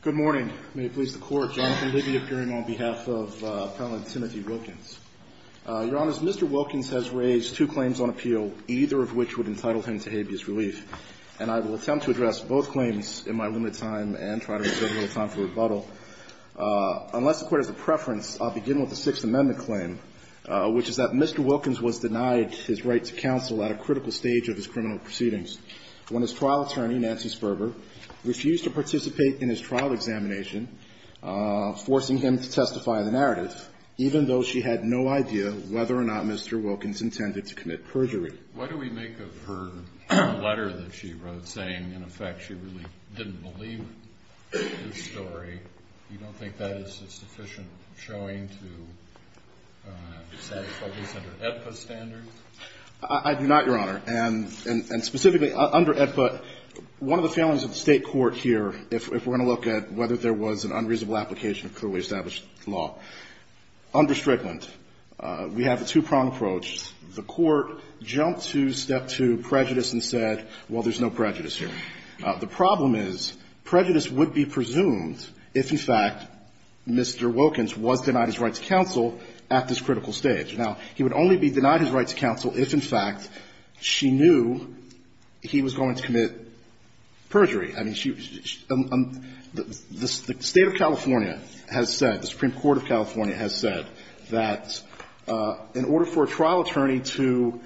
Good morning. May it please the Court, Jonathan Libby appearing on behalf of Appellant Timothy Wilkins. Your Honor, Mr. Wilkins has raised two claims on appeal, either of which would entitle him to habeas relief, and I will attempt to address both claims in my limited time and try to reserve a little time for rebuttal. Unless the Court has a preference, I'll begin with the Sixth Amendment claim, which is that Mr. Wilkins was denied his right to counsel at a critical stage of his criminal proceedings when his trial attorney, Nancy Sperber, refused to participate in his trial examination, forcing him to testify in the narrative, even though she had no idea whether or not Mr. Wilkins intended to commit perjury. Why do we make of her letter that she wrote saying, in effect, she really didn't believe the story, you don't think that is a sufficient showing to satisfy these under AEDPA standards? I do not, Your Honor. And specifically, under AEDPA, one of the failings of the State court here, if we're going to look at whether there was an unreasonable application of clearly established law, under Strickland, we have a two-prong approach. The Court jumped to step two, prejudice, and said, well, there's no prejudice here. The problem is prejudice would be presumed if, in fact, Mr. Wilkins was denied his right to counsel at this critical stage. Now, he would only be denied his right to counsel if, in fact, she knew he was going to commit perjury. I mean, she was – the State of California has said, the Supreme Court of California has said that in order for a trial attorney to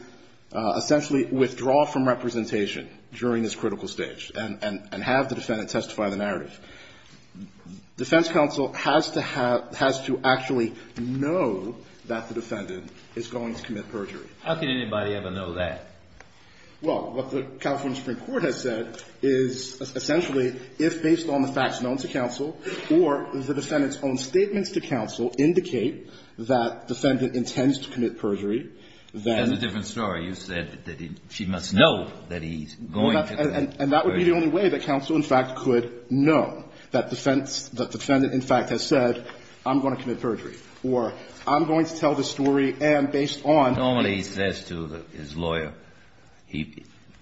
essentially withdraw from representation during this critical stage and have the defendant testify in the narrative, defense counsel has to have – has to actually know that the defendant is going to commit perjury. How can anybody ever know that? Well, what the California Supreme Court has said is essentially, if based on the facts known to counsel or the defendant's own statements to counsel indicate that defendant intends to commit perjury, then – That's a different story. You said that she must know that he's going to commit perjury. And that would be the only way that counsel, in fact, could know, that defense – that defendant, in fact, has said, I'm going to commit perjury. Or I'm going to tell the story and based on – Normally he says to his lawyer –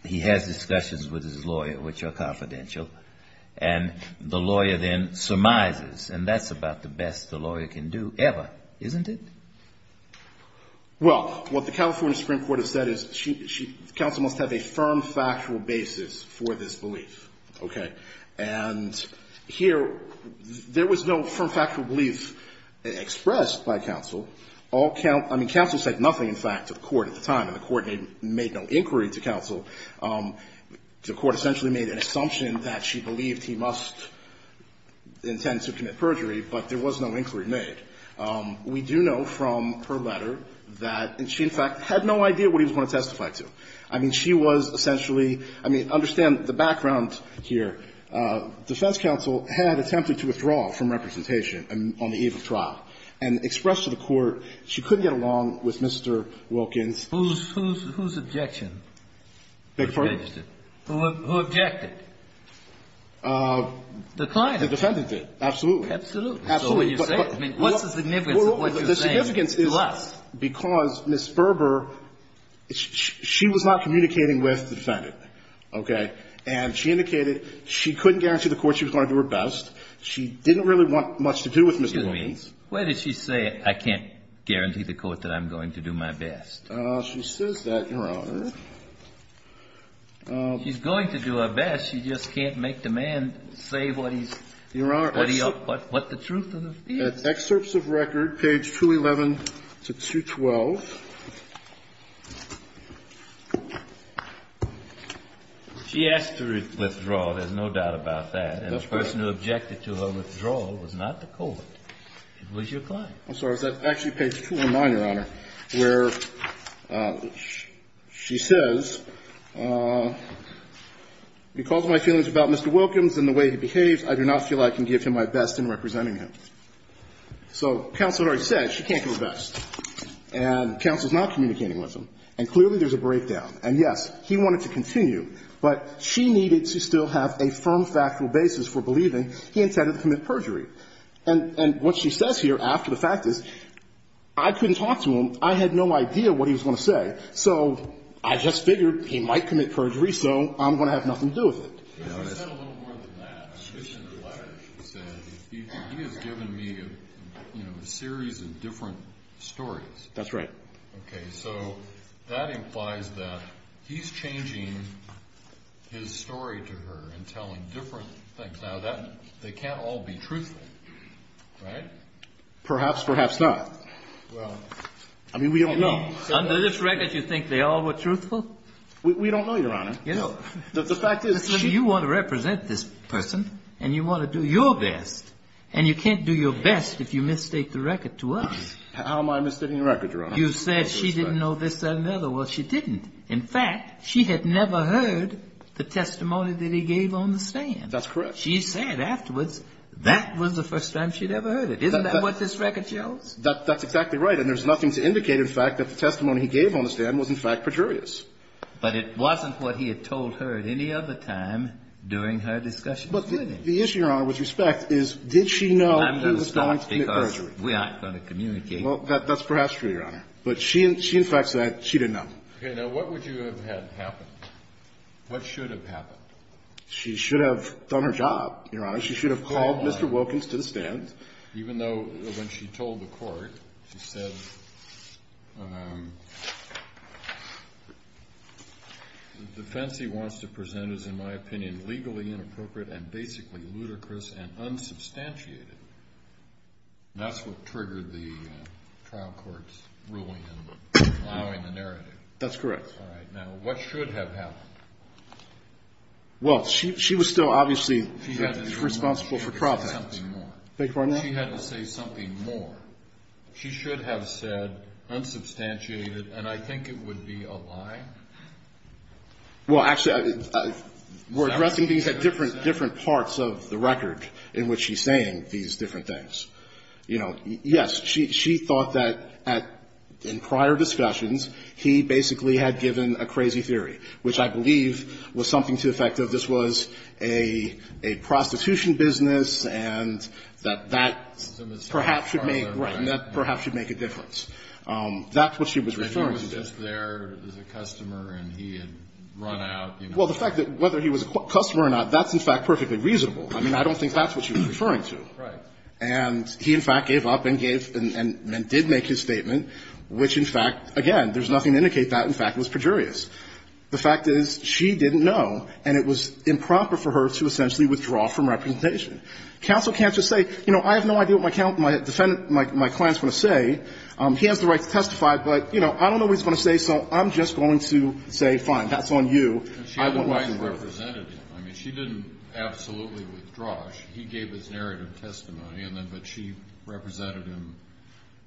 he has discussions with his lawyer, which are confidential, and the lawyer then surmises. And that's about the best the lawyer can do ever, isn't it? Well, what the California Supreme Court has said is she – counsel must have a firm factual basis for this belief, okay? And here, there was no firm factual belief expressed by counsel. All – I mean, counsel said nothing, in fact, to the court at the time. And the court made no inquiry to counsel. The court essentially made an assumption that she believed he must intend to commit perjury, but there was no inquiry made. We do know from her letter that – and she, in fact, had no idea what he was going to testify to. I mean, she was essentially – I mean, understand the background here. Defense counsel had attempted to withdraw from representation on the eve of trial and expressed to the court she couldn't get along with Mr. Wilkins. Whose – whose objection? Beg your pardon? Who objected? The client. The defendant did, absolutely. Absolutely. So what you're saying – I mean, what's the significance of what you're saying to us? Well, the significance is because Ms. Berber – she was not communicating with the defendant, okay? And she indicated she couldn't guarantee the court she was going to do her best. She didn't really want much to do with Mr. Wilkins. Where did she say, I can't guarantee the court that I'm going to do my best? She says that, Your Honor. She's going to do her best. She just can't make the man say what he's – what the truth is. Your Honor, at excerpts of record, page 211 to 212. She asked to withdraw. There's no doubt about that. And the person who objected to her withdrawal was not the court. It was your client. I'm sorry. Is that actually page 219, Your Honor, where she says, because of my feelings about Mr. Wilkins and the way he behaves, I do not feel I can give him my best in representing him. So counsel already said she can't do her best. And counsel's not communicating with him. And clearly there's a breakdown. And, yes, he wanted to continue, but she needed to still have a firm factual basis for believing he intended to commit perjury. And what she says here after the fact is, I couldn't talk to him. I had no idea what he was going to say. So I just figured he might commit perjury, so I'm going to have nothing to do with it. He has given me a series of different stories. That's right. Okay. So that implies that he's changing his story to her and telling different things. Now, they can't all be truthful, right? Perhaps, perhaps not. Well, I mean, we don't know. Under this record, you think they all were truthful? We don't know, Your Honor. You know, you want to represent this person, and you want to do your best. And you can't do your best if you mistake the record to us. How am I mistaking the record, Your Honor? You said she didn't know this or another. Well, she didn't. In fact, she had never heard the testimony that he gave on the stand. That's correct. She said afterwards that was the first time she'd ever heard it. Isn't that what this record shows? That's exactly right. And there's nothing to indicate, in fact, that the testimony he gave on the stand was, in fact, perjurious. But it wasn't what he had told her at any other time during her discussion with him. But the issue, Your Honor, with respect, is did she know in response to the perjury? I'm going to stop because we aren't going to communicate. Well, that's perhaps true, Your Honor. But she, in fact, said she didn't know. Okay. Now, what would you have had happen? What should have happened? She should have done her job, Your Honor. She should have called Mr. Wilkins to the stand. Even though when she told the court, she said, the defense he wants to present is, in my opinion, legally inappropriate and basically ludicrous and unsubstantiated. That's what triggered the trial court's ruling and allowing the narrative. That's correct. All right. Now, what should have happened? Well, she was still obviously responsible for profits. She had to say something more. She had to say something more. She should have said unsubstantiated, and I think it would be a lie. Well, actually, we're addressing these at different parts of the record in which she's saying these different things. You know, yes, she thought that in prior discussions, he basically had given a crazy theory, which I believe was something to the effect of this was a prostitution business, and that that perhaps should make a difference. That's what she was referring to. But he was just there as a customer, and he had run out. Well, the fact that whether he was a customer or not, that's, in fact, perfectly reasonable. I mean, I don't think that's what she was referring to. Right. And he, in fact, gave up and did make his statement, which, in fact, again, there's nothing to indicate that, in fact, was pejorious. The fact is she didn't know, and it was improper for her to essentially withdraw from representation. Counsel can't just say, you know, I have no idea what my client is going to say. He has the right to testify, but, you know, I don't know what he's going to say, so I'm just going to say, fine, that's on you. She otherwise represented him. I mean, she didn't absolutely withdraw. He gave his narrative testimony, but she represented him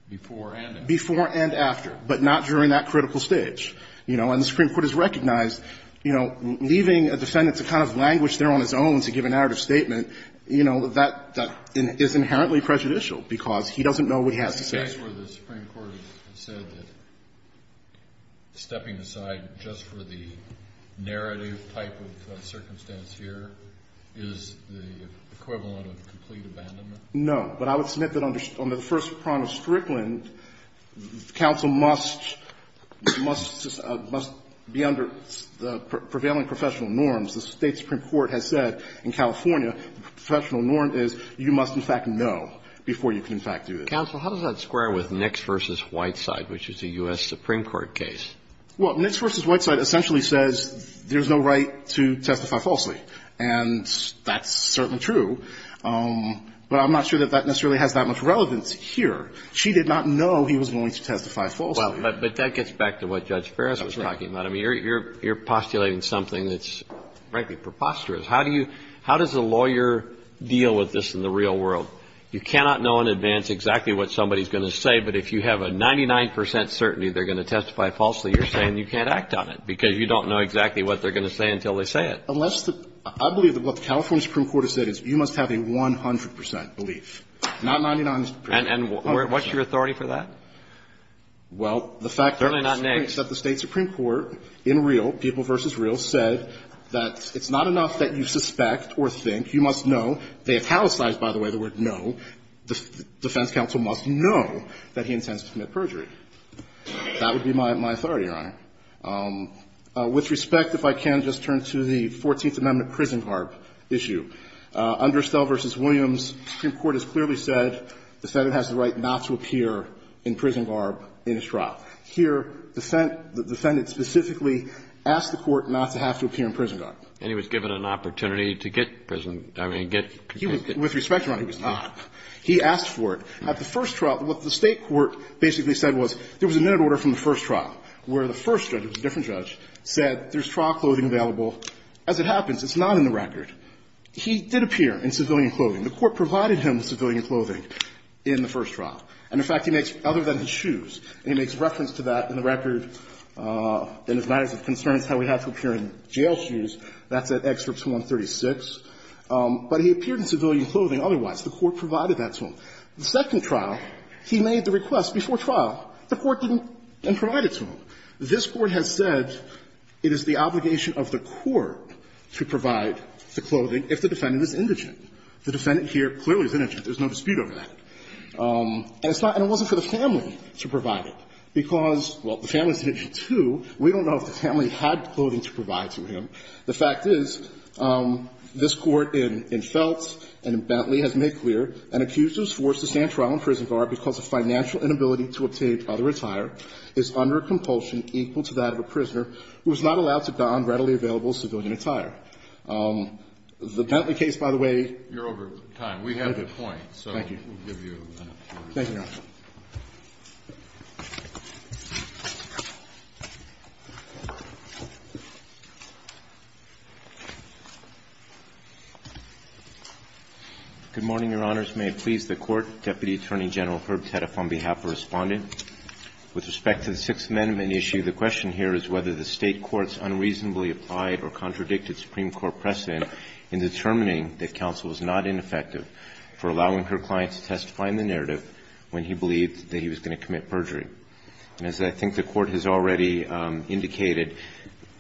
before and after. Before and after, but not during that critical stage. You know, and the Supreme Court has recognized, you know, leaving a defendant to kind of languish there on his own to give a narrative statement, you know, that is inherently prejudicial because he doesn't know what he has to say. Kennedy. The Supreme Court has said that stepping aside just for the narrative type of circumstance here is the equivalent of complete abandonment? No. But I would submit that under the first prong of Strickland, counsel must be under the prevailing professional norms. The State Supreme Court has said in California the professional norm is you must, in fact, know before you can, in fact, do this. Counsel, how does that square with Nix v. Whiteside, which is a U.S. Supreme Court case? Well, Nix v. Whiteside essentially says there's no right to testify falsely, and that's certainly true. But I'm not sure that that necessarily has that much relevance here. She did not know he was going to testify falsely. But that gets back to what Judge Ferris was talking about. I mean, you're postulating something that's, frankly, preposterous. How do you – how does a lawyer deal with this in the real world? You cannot know in advance exactly what somebody is going to say, but if you have a 99 percent certainty they're going to testify falsely, you're saying you can't act on it because you don't know exactly what they're going to say until they say I believe that what the California Supreme Court has said is you must have a 100 percent belief, not 99 percent. And what's your authority for that? Well, the fact that the State Supreme Court in real, people v. real, said that it's not enough that you suspect or think. You must know. They italicized, by the way, the word no. The defense counsel must know that he intends to commit perjury. That would be my authority, Your Honor. With respect, if I can, just turn to the Fourteenth Amendment prison garb issue. Under Stelle v. Williams, the Supreme Court has clearly said the defendant has the right not to appear in prison garb in his trial. Here, the defendant specifically asked the Court not to have to appear in prison garb. And he was given an opportunity to get prison – I mean, get – With respect, Your Honor, he was not. He asked for it. At the first trial, what the State court basically said was there was a minute order from the first trial where the first judge, who was a different judge, said there's trial clothing available. As it happens, it's not in the record. He did appear in civilian clothing. The Court provided him with civilian clothing in the first trial. And, in fact, he makes, other than his shoes, he makes reference to that in the record in his matters of concerns, how he had to appear in jail shoes. That's at Excerpt 136. But he appeared in civilian clothing otherwise. The Court provided that to him. The second trial, he made the request before trial. The Court didn't provide it to him. This Court has said it is the obligation of the Court to provide the clothing if the defendant is indigent. The defendant here clearly is indigent. There's no dispute over that. And it's not – and it wasn't for the family to provide it, because, well, the family is indigent, too. We don't know if the family had clothing to provide to him. The fact is this Court in Feltz and in Bentley has made clear an accused was forced to stand trial in prison guard because of financial inability to obtain other attire is under a compulsion equal to that of a prisoner who was not allowed to don readily available civilian attire. The Bentley case, by the way – You're over time. We have a point. Thank you. Thank you, Your Honor. Good morning, Your Honors. First may it please the Court, Deputy Attorney General Herb Teddeff on behalf of Respondent. With respect to the Sixth Amendment issue, the question here is whether the State courts unreasonably applied or contradicted Supreme Court precedent in determining that counsel was not ineffective for allowing her client to testify in the narrative when he believed that he was going to commit perjury. And as I think the Court has already indicated,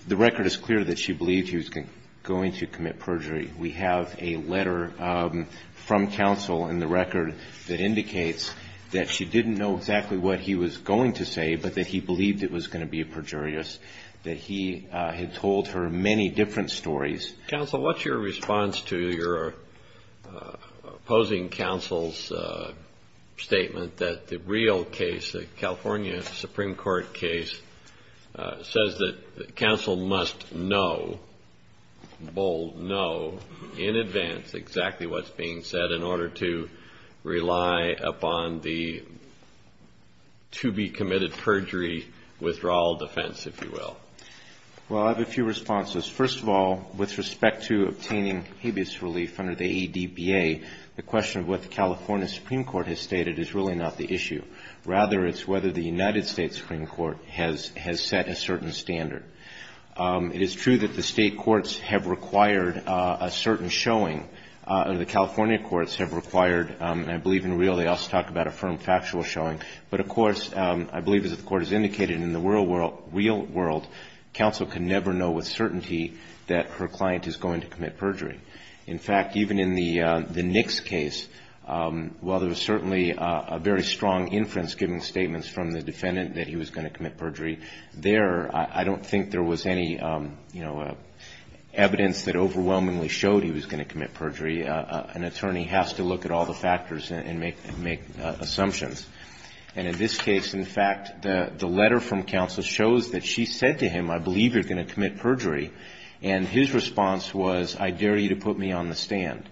the record is clear that she believed he was going to commit perjury. We have a letter from counsel in the record that indicates that she didn't know exactly what he was going to say, but that he believed it was going to be perjurious, that he had told her many different stories. Counsel, what's your response to your opposing counsel's statement that the real case, the California Supreme Court case, says that counsel must know, bold know, in advance exactly what's being said in order to rely upon the to be committed perjury withdrawal defense, if you will? Well, I have a few responses. First of all, with respect to obtaining habeas relief under the ADBA, the question of what the California Supreme Court has stated is really not the issue. Rather, it's whether the United States Supreme Court has set a certain standard. It is true that the state courts have required a certain showing, or the California courts have required, and I believe in real, they also talk about a firm factual showing, but of course, I believe as the Court has indicated, in the real world, counsel can never know with certainty that her client is going to commit perjury. In fact, even in the Nix case, while there was certainly a very strong inference giving statements from the defendant that he was going to commit perjury, there, I don't think there was any, you know, evidence that overwhelmingly showed he was going to commit perjury. An attorney has to look at all the factors and make assumptions. And in this case, in fact, the letter from counsel shows that she said to him, I believe you're going to commit perjury. And his response was, I dare you to put me on the stand.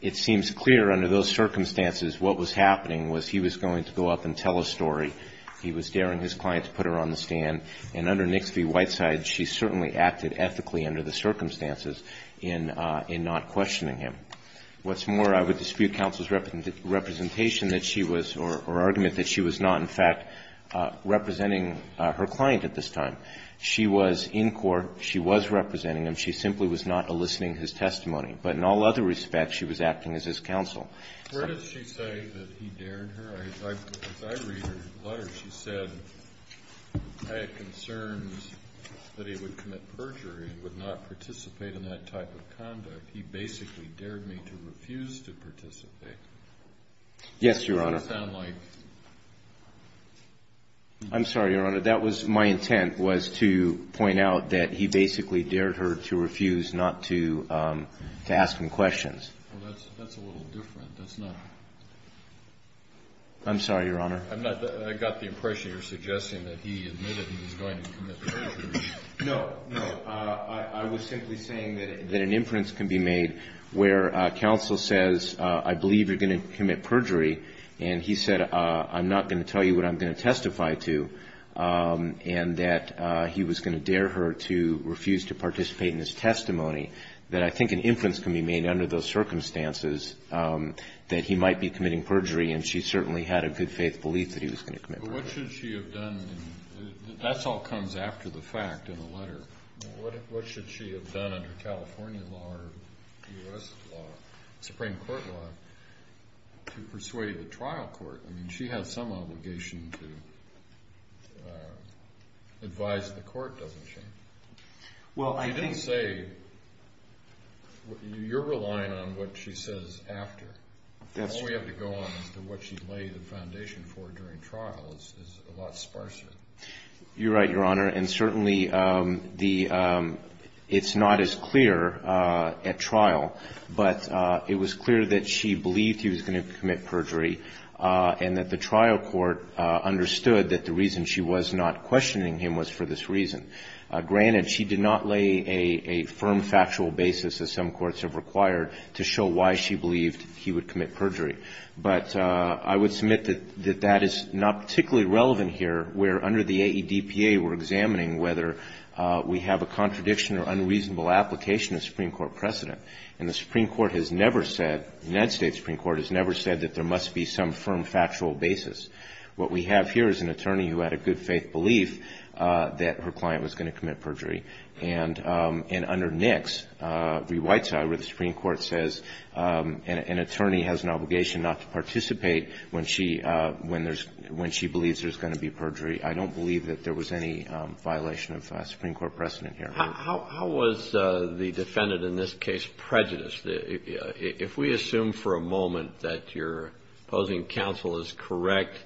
It seems clear under those circumstances what was happening was he was going to go up and tell a story. He was daring his client to put her on the stand. And under Nix v. Whiteside, she certainly acted ethically under the circumstances in not questioning him. What's more, I would dispute counsel's representation that she was, or argument that she was not, in fact, representing her client at this time. She was in court. She was representing him. She simply was not eliciting his testimony. But in all other respects, she was acting as his counsel. Kennedy, where did she say that he dared her? As I read her letter, she said, I had concerns that he would commit perjury and would not participate in that type of conduct. He basically dared me to refuse to participate. Yes, Your Honor. I'm sorry, Your Honor, that was my intent was to point out that he basically dared her to refuse not to ask him questions. Well, that's a little different. That's not. I'm sorry, Your Honor. I got the impression you're suggesting that he admitted that he was going to commit perjury. No, no. I was simply saying that an inference can be made where counsel says, I believe you're going to commit perjury, and he said, I'm not going to tell you what I'm going to testify to, and that he was going to dare her to refuse to participate in his testimony, that I think an inference can be made under those circumstances that he might be committing perjury, and she certainly had a good faith belief that he was going to commit perjury. But what should she have done? That all comes after the fact in the letter. What should she have done under California law or U.S. law, Supreme Court law, to persuade the trial court? I mean, she has some obligation to advise the court, doesn't she? Well, I think you're relying on what she says after. All we have to go on is what she laid the foundation for during trial is a lot sparser. You're right, Your Honor. And certainly it's not as clear at trial, but it was clear that she believed he was going to commit perjury and that the trial court understood that the reason she was not questioning him was for this reason. Granted, she did not lay a firm factual basis, as some courts have required, to show why she believed he would commit perjury. But I would submit that that is not particularly relevant here where under the AEDPA we're examining whether we have a contradiction or unreasonable application of Supreme Court precedent. And the Supreme Court has never said, the United States Supreme Court has never said that there must be some firm factual basis. What we have here is an attorney who had a good faith belief that her client was going to commit perjury. And under NICS, the white side where the Supreme Court says an attorney has an obligation not to participate when she believes there's going to be perjury. I don't believe that there was any violation of Supreme Court precedent here. How was the defendant in this case prejudiced? If we assume for a moment that your opposing counsel is correct,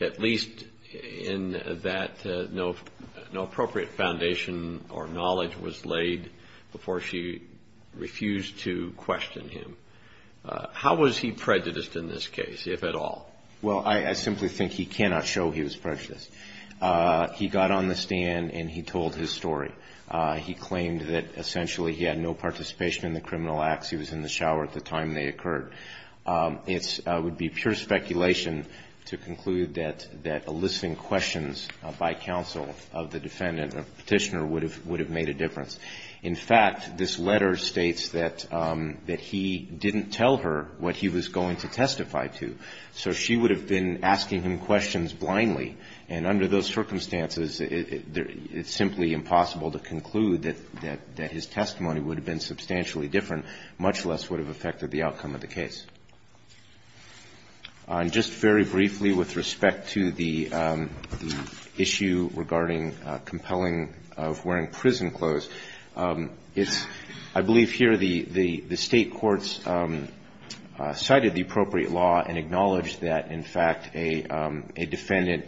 at least in that no appropriate foundation or knowledge was laid before she refused to question him. How was he prejudiced in this case, if at all? Well, I simply think he cannot show he was prejudiced. He got on the stand and he told his story. He claimed that essentially he had no participation in the criminal acts. He was in the shower at the time they occurred. It would be pure speculation to conclude that eliciting questions by counsel of the defendant or Petitioner would have made a difference. In fact, this letter states that he didn't tell her what he was going to testify to. So she would have been asking him questions blindly. And under those circumstances, it's simply impossible to conclude that his testimony would have been substantially different, much less would have affected the outcome of the case. And just very briefly with respect to the issue regarding compelling of wearing prison clothes, it's – I believe here the State courts cited the appropriate law and acknowledged that, in fact, a defendant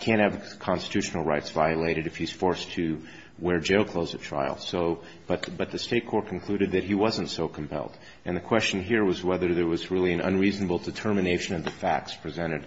can't have constitutional rights violated if he's forced to wear jail clothes at trial. So – but the State court concluded that he wasn't so compelled. And the question here was whether there was really an unreasonable determination of the facts presented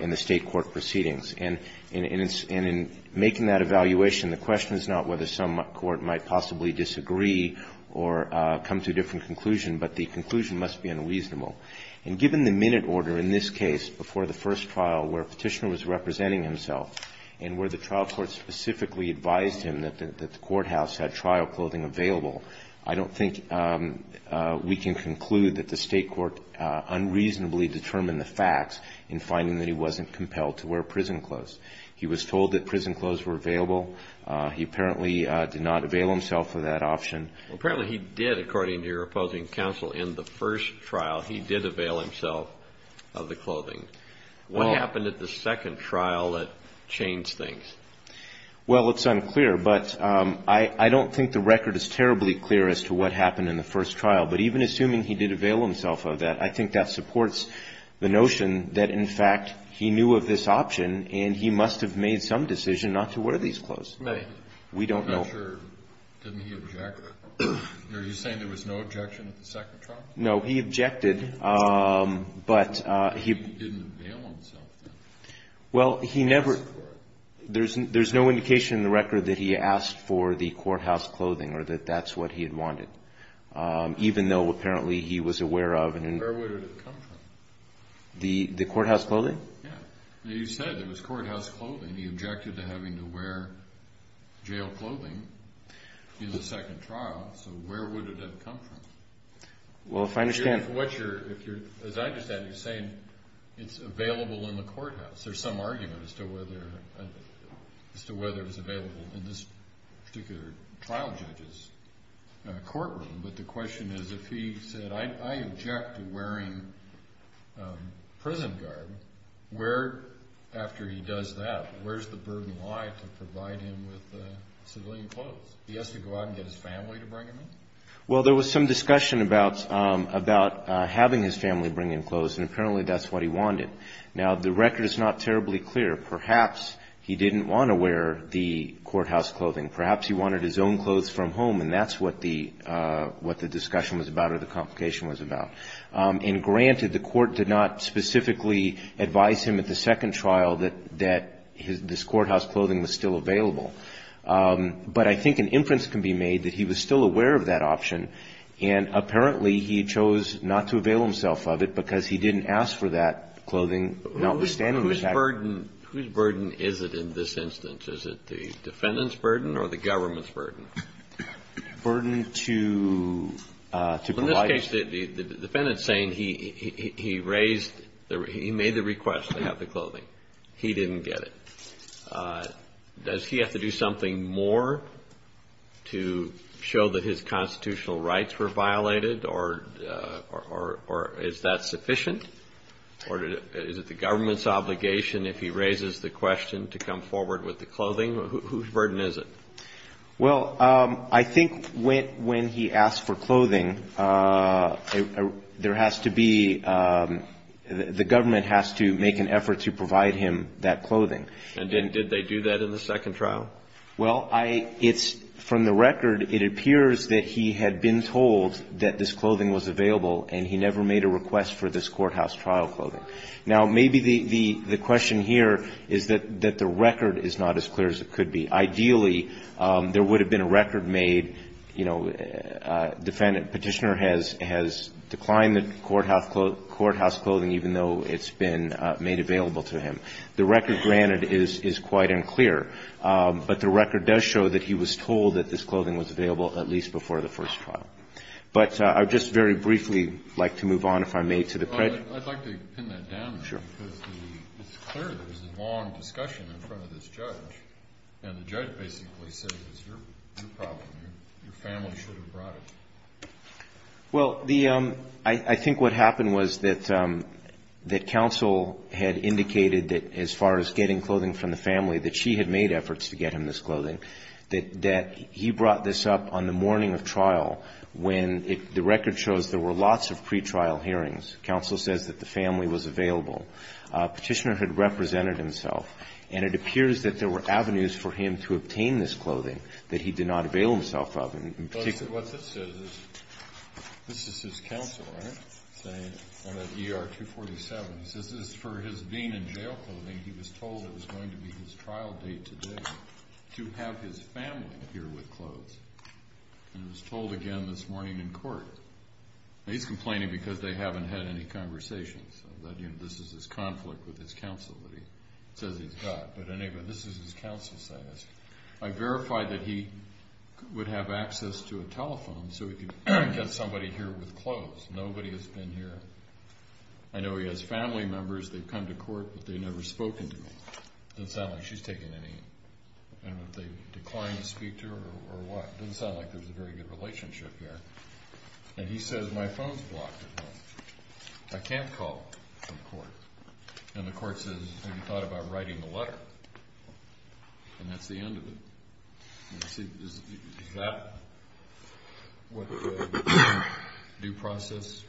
in the State court proceedings. And in making that evaluation, the question is not whether some court might possibly disagree or come to a different conclusion, but the conclusion must be unreasonable. And given the minute order in this case before the first trial where Petitioner was representing himself and where the trial court specifically advised him that the we can conclude that the State court unreasonably determined the facts in finding that he wasn't compelled to wear prison clothes. He was told that prison clothes were available. He apparently did not avail himself of that option. Apparently he did, according to your opposing counsel, in the first trial, he did avail himself of the clothing. What happened at the second trial that changed things? Well, it's unclear. But I don't think the record is terribly clear as to what happened in the first trial. But even assuming he did avail himself of that, I think that supports the notion that, in fact, he knew of this option and he must have made some decision not to wear these clothes. May. We don't know. I'm not sure. Didn't he object? Are you saying there was no objection at the second trial? No. He objected. But he didn't avail himself then. Well, he never. There's no indication in the record that he asked for the courthouse clothing or that that's what he had wanted. Even though, apparently, he was aware of and... Where would it have come from? The courthouse clothing? Yeah. You said there was courthouse clothing. He objected to having to wear jail clothing in the second trial. So where would it have come from? Well, if I understand... As I understand it, you're saying it's available in the courthouse. There's some argument as to whether it's available in this particular trial judge's courtroom, but the question is if he said, I object to wearing prison garb, where, after he does that, where's the burden lie to provide him with civilian clothes? He has to go out and get his family to bring him in? Well, there was some discussion about having his family bring in clothes, and apparently that's what he wanted. Now, the record is not terribly clear. Perhaps he didn't want to wear the courthouse clothing. Perhaps he wanted his own clothes from home, and that's what the discussion was about or the complication was about. And, granted, the court did not specifically advise him at the second trial that this courthouse clothing was still available. But I think an inference can be made that he was still aware of that option, and apparently he chose not to avail himself of it because he didn't ask for that clothing, notwithstanding the fact... Whose burden is it in this instance? Is it the defendant's burden or the government's burden? Burden to provide... In this case, the defendant's saying he raised, he made the request to have the clothing. He didn't get it. Does he have to do something more to show that his constitutional rights were violated, or is that sufficient? Or is it the government's obligation, If he raises the question to come forward with the clothing, whose burden is it? Well, I think when he asked for clothing, there has to be the government has to make an effort to provide him that clothing. And did they do that in the second trial? Well, it's from the record, it appears that he had been told that this clothing was available, and he never made a request for this courthouse trial clothing. Now, maybe the question here is that the record is not as clear as it could be. Ideally, there would have been a record made, you know, defendant, Petitioner has declined the courthouse clothing even though it's been made available to him. The record, granted, is quite unclear, but the record does show that he was told that this clothing was available at least before the first trial. But I would just very briefly like to move on, if I may, to the... I'd like to pin that down there, because it's clear there was a long discussion in front of this judge, and the judge basically said it was your problem, your family should have brought it. Well, I think what happened was that counsel had indicated that as far as getting clothing from the family, that she had made efforts to get him this clothing, that he brought this up on the morning of trial when the record shows there were avenues for him to obtain this clothing that he did not avail himself of, in particular. But what this says is, this is his counsel, right, saying, at ER-247, he says this is for his being in jail clothing, he was told it was going to be his trial date today to have his family here with clothes. And it was told again this morning in court. Now, he's complaining because they haven't had any conversation. This is his conflict with his counsel that he says he's got. But anyway, this is his counsel saying this. I verified that he would have access to a telephone so he could get somebody here with clothes. Nobody has been here. I know he has family members. They've come to court, but they've never spoken to me. It doesn't sound like she's taken any. I don't know if they declined to speak to her or what. It doesn't sound like there's a very good relationship here. And he says, my phone's blocked at home. I can't call from court. And the court says, have you thought about writing a letter? And that's the end of it. Is that what the due process?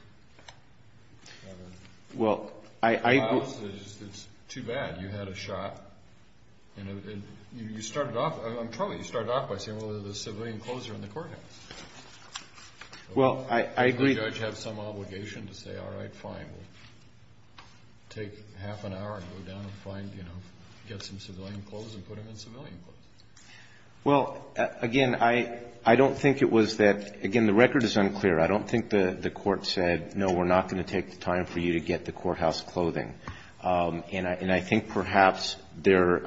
Well, I... It's too bad. You had a shot. And you started off... Well, I... Well, again, I don't think it was that... Again, the record is unclear. I don't think the court said, no, we're not going to take the time for you to get the courthouse clothing. And I think perhaps there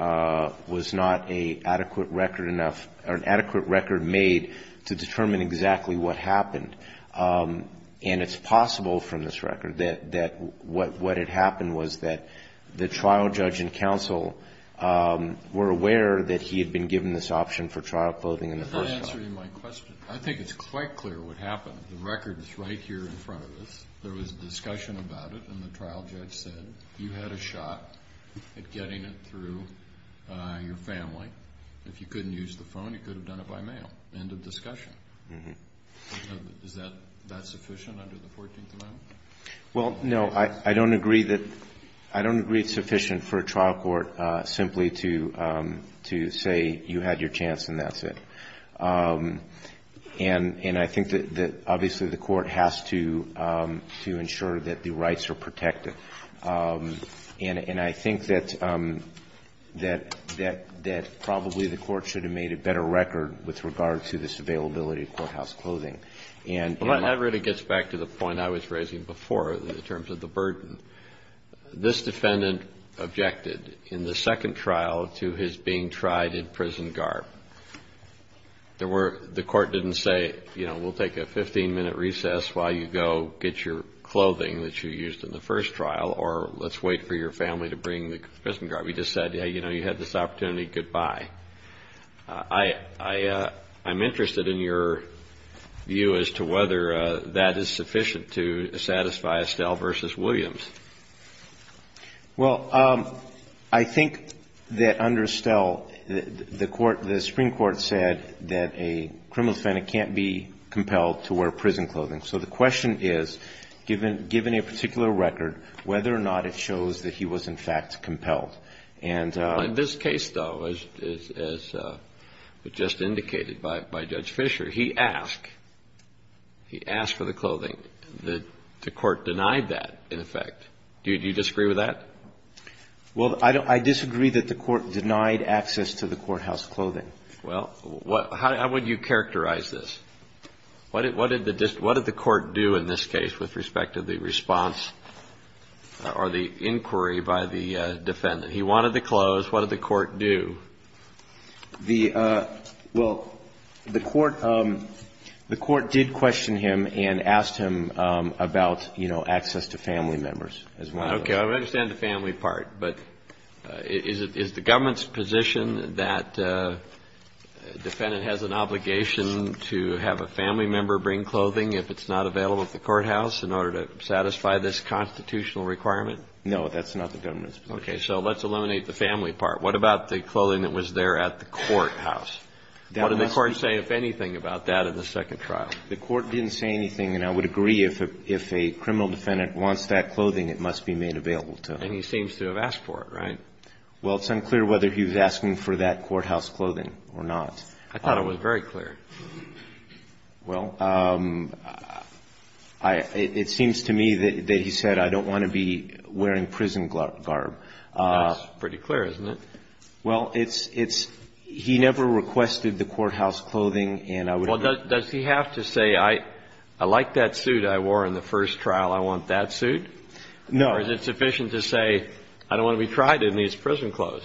was not an adequate record made to determine exactly what happened. And it's possible from this record that what had happened was that the trial judge and counsel were aware that he had been given this option for trial clothing in the first trial. That's not answering my question. I think it's quite clear what happened. The record is right here in front of us. There was a discussion about it, and the trial judge said, you had a shot at getting it through your family. If you couldn't use the phone, you could have done it by mail. End of discussion. Is that sufficient under the 14th Amendment? Well, no. I don't agree it's sufficient for a trial court simply to say you had your chance and that's it. And I think that obviously the court has to ensure that the rights are protected. And I think that probably the court should have made a better record with regard to this availability of courthouse clothing. Well, that really gets back to the point I was raising before in terms of the burden. This defendant objected in the second trial to his being tried in prison garb. The court didn't say, you know, we'll take a 15-minute recess while you go get your clothing that you used in the first trial, or let's wait for your family to bring the prison garb. He just said, yeah, you know, you had this opportunity, goodbye. I'm interested in your view as to whether that is sufficient to satisfy Estelle v. Williams. Well, I think that under Estelle, the Supreme Court said that a criminal defendant can't be compelled to wear prison clothing. So the question is, given a particular record, whether or not it shows that he was in fact compelled. In this case, though, as was just indicated by Judge Fischer, he asked. He asked for the clothing. The court denied that, in effect. Do you disagree with that? Well, I disagree that the court denied access to the courthouse clothing. Well, how would you characterize this? What did the court do in this case with respect to the response or the inquiry by the defendant? He wanted the clothes. What did the court do? Well, the court did question him and asked him about, you know, access to family members. Okay. I understand the family part. But is it the government's position that a defendant has an obligation to have a family member bring clothing if it's not available at the courthouse in order to satisfy this constitutional requirement? No, that's not the government's position. So let's eliminate the family part. What about the clothing that was there at the courthouse? What did the court say, if anything, about that in the second trial? The court didn't say anything. And I would agree if a criminal defendant wants that clothing, it must be made available to him. And he seems to have asked for it, right? Well, it's unclear whether he was asking for that courthouse clothing or not. I thought it was very clear. Well, it seems to me that he said, I don't want to be wearing prison garb. That's pretty clear, isn't it? Well, it's he never requested the courthouse clothing, and I would agree. Well, does he have to say, I like that suit I wore in the first trial, I want that suit? No. Or is it sufficient to say, I don't want to be tried in these prison clothes?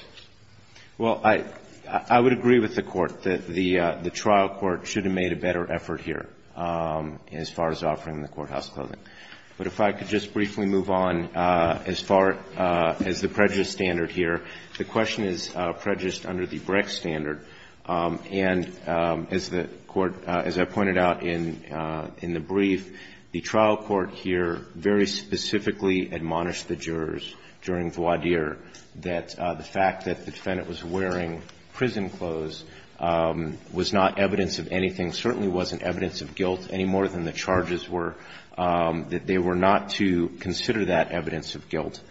Well, I would agree with the Court that the trial court should have made a better effort here as far as offering the courthouse clothing. But if I could just briefly move on as far as the prejudice standard here. The question is prejudice under the Brecht standard. And as the Court, as I pointed out in the brief, the trial court here very specifically admonished the jurors during voir dire that the fact that the defendant was wearing prison clothes was not evidence of anything, certainly wasn't evidence of guilt any more than the charges were. That they were not to consider that evidence of guilt.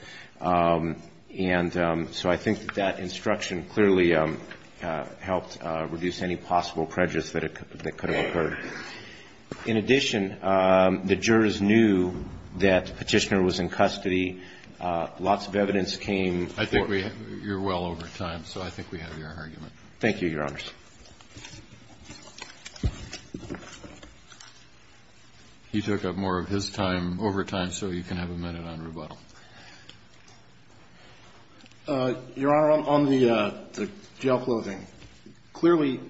And so I think that that instruction clearly helped reduce any possible prejudice that could have occurred. In addition, the jurors knew that Petitioner was in custody. Lots of evidence came. I think we're well over time, so I think we have your argument. Thank you, Your Honors. He took up more of his time over time, so you can have a minute on rebuttal. Your Honor, on the jail clothing, clearly,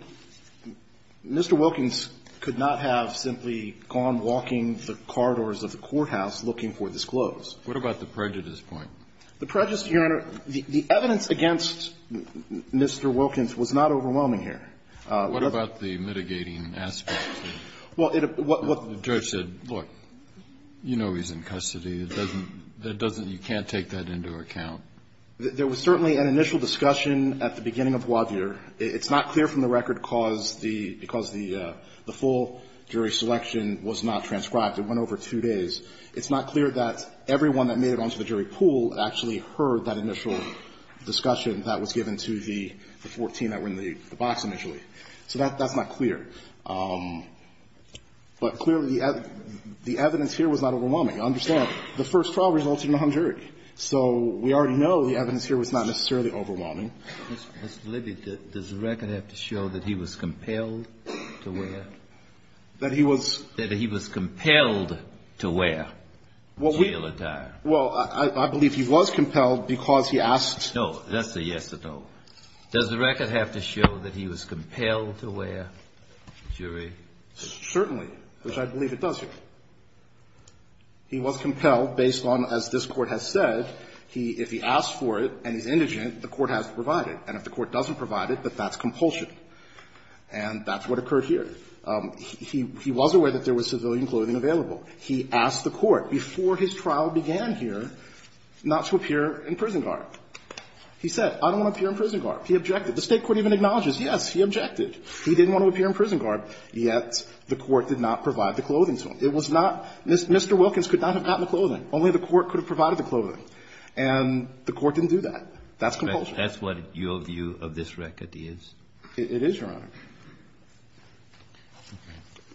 Mr. Wilkins could not have simply gone walking the corridors of the courthouse looking for this clothes. What about the prejudice point? The prejudice, Your Honor, the evidence against Mr. Wilkins was not overwhelming here. What about the mitigating aspect? Well, it was what the judge said, look, you know he's in custody. It doesn't you can't take that into account. There was certainly an initial discussion at the beginning of voir dire. It's not clear from the record because the full jury selection was not transcribed. It went over two days. It's not clear that everyone that made it onto the jury pool actually heard that initial discussion that was given to the 14 that were in the box initially. So that's not clear. But clearly, the evidence here was not overwhelming. Understand, the first trial resulted in a hung jury. So we already know the evidence here was not necessarily overwhelming. Mr. Libby, does the record have to show that he was compelled to wear? That he was? That he was compelled to wear jail attire? Well, I believe he was compelled because he asked. No, that's a yes or no. Does the record have to show that he was compelled to wear, jury? Certainly, which I believe it does, Your Honor. He was compelled based on, as this Court has said, if he asked for it and he's indigent, the Court has to provide it. And if the Court doesn't provide it, then that's compulsion. And that's what occurred here. He was aware that there was civilian clothing available. He asked the Court before his trial began here not to appear in prison garb. He said, I don't want to appear in prison garb. He objected. The State court even acknowledges, yes, he objected. He didn't want to appear in prison garb, yet the Court did not provide the clothing to him. It was not Mr. Wilkins could not have gotten the clothing. Only the Court could have provided the clothing. And the Court didn't do that. That's compulsion. That's what your view of this record is? It is, Your Honor. Thank you.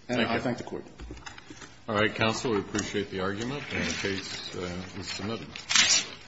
And I thank the Court. All right, counsel. We appreciate the argument. The case is submitted.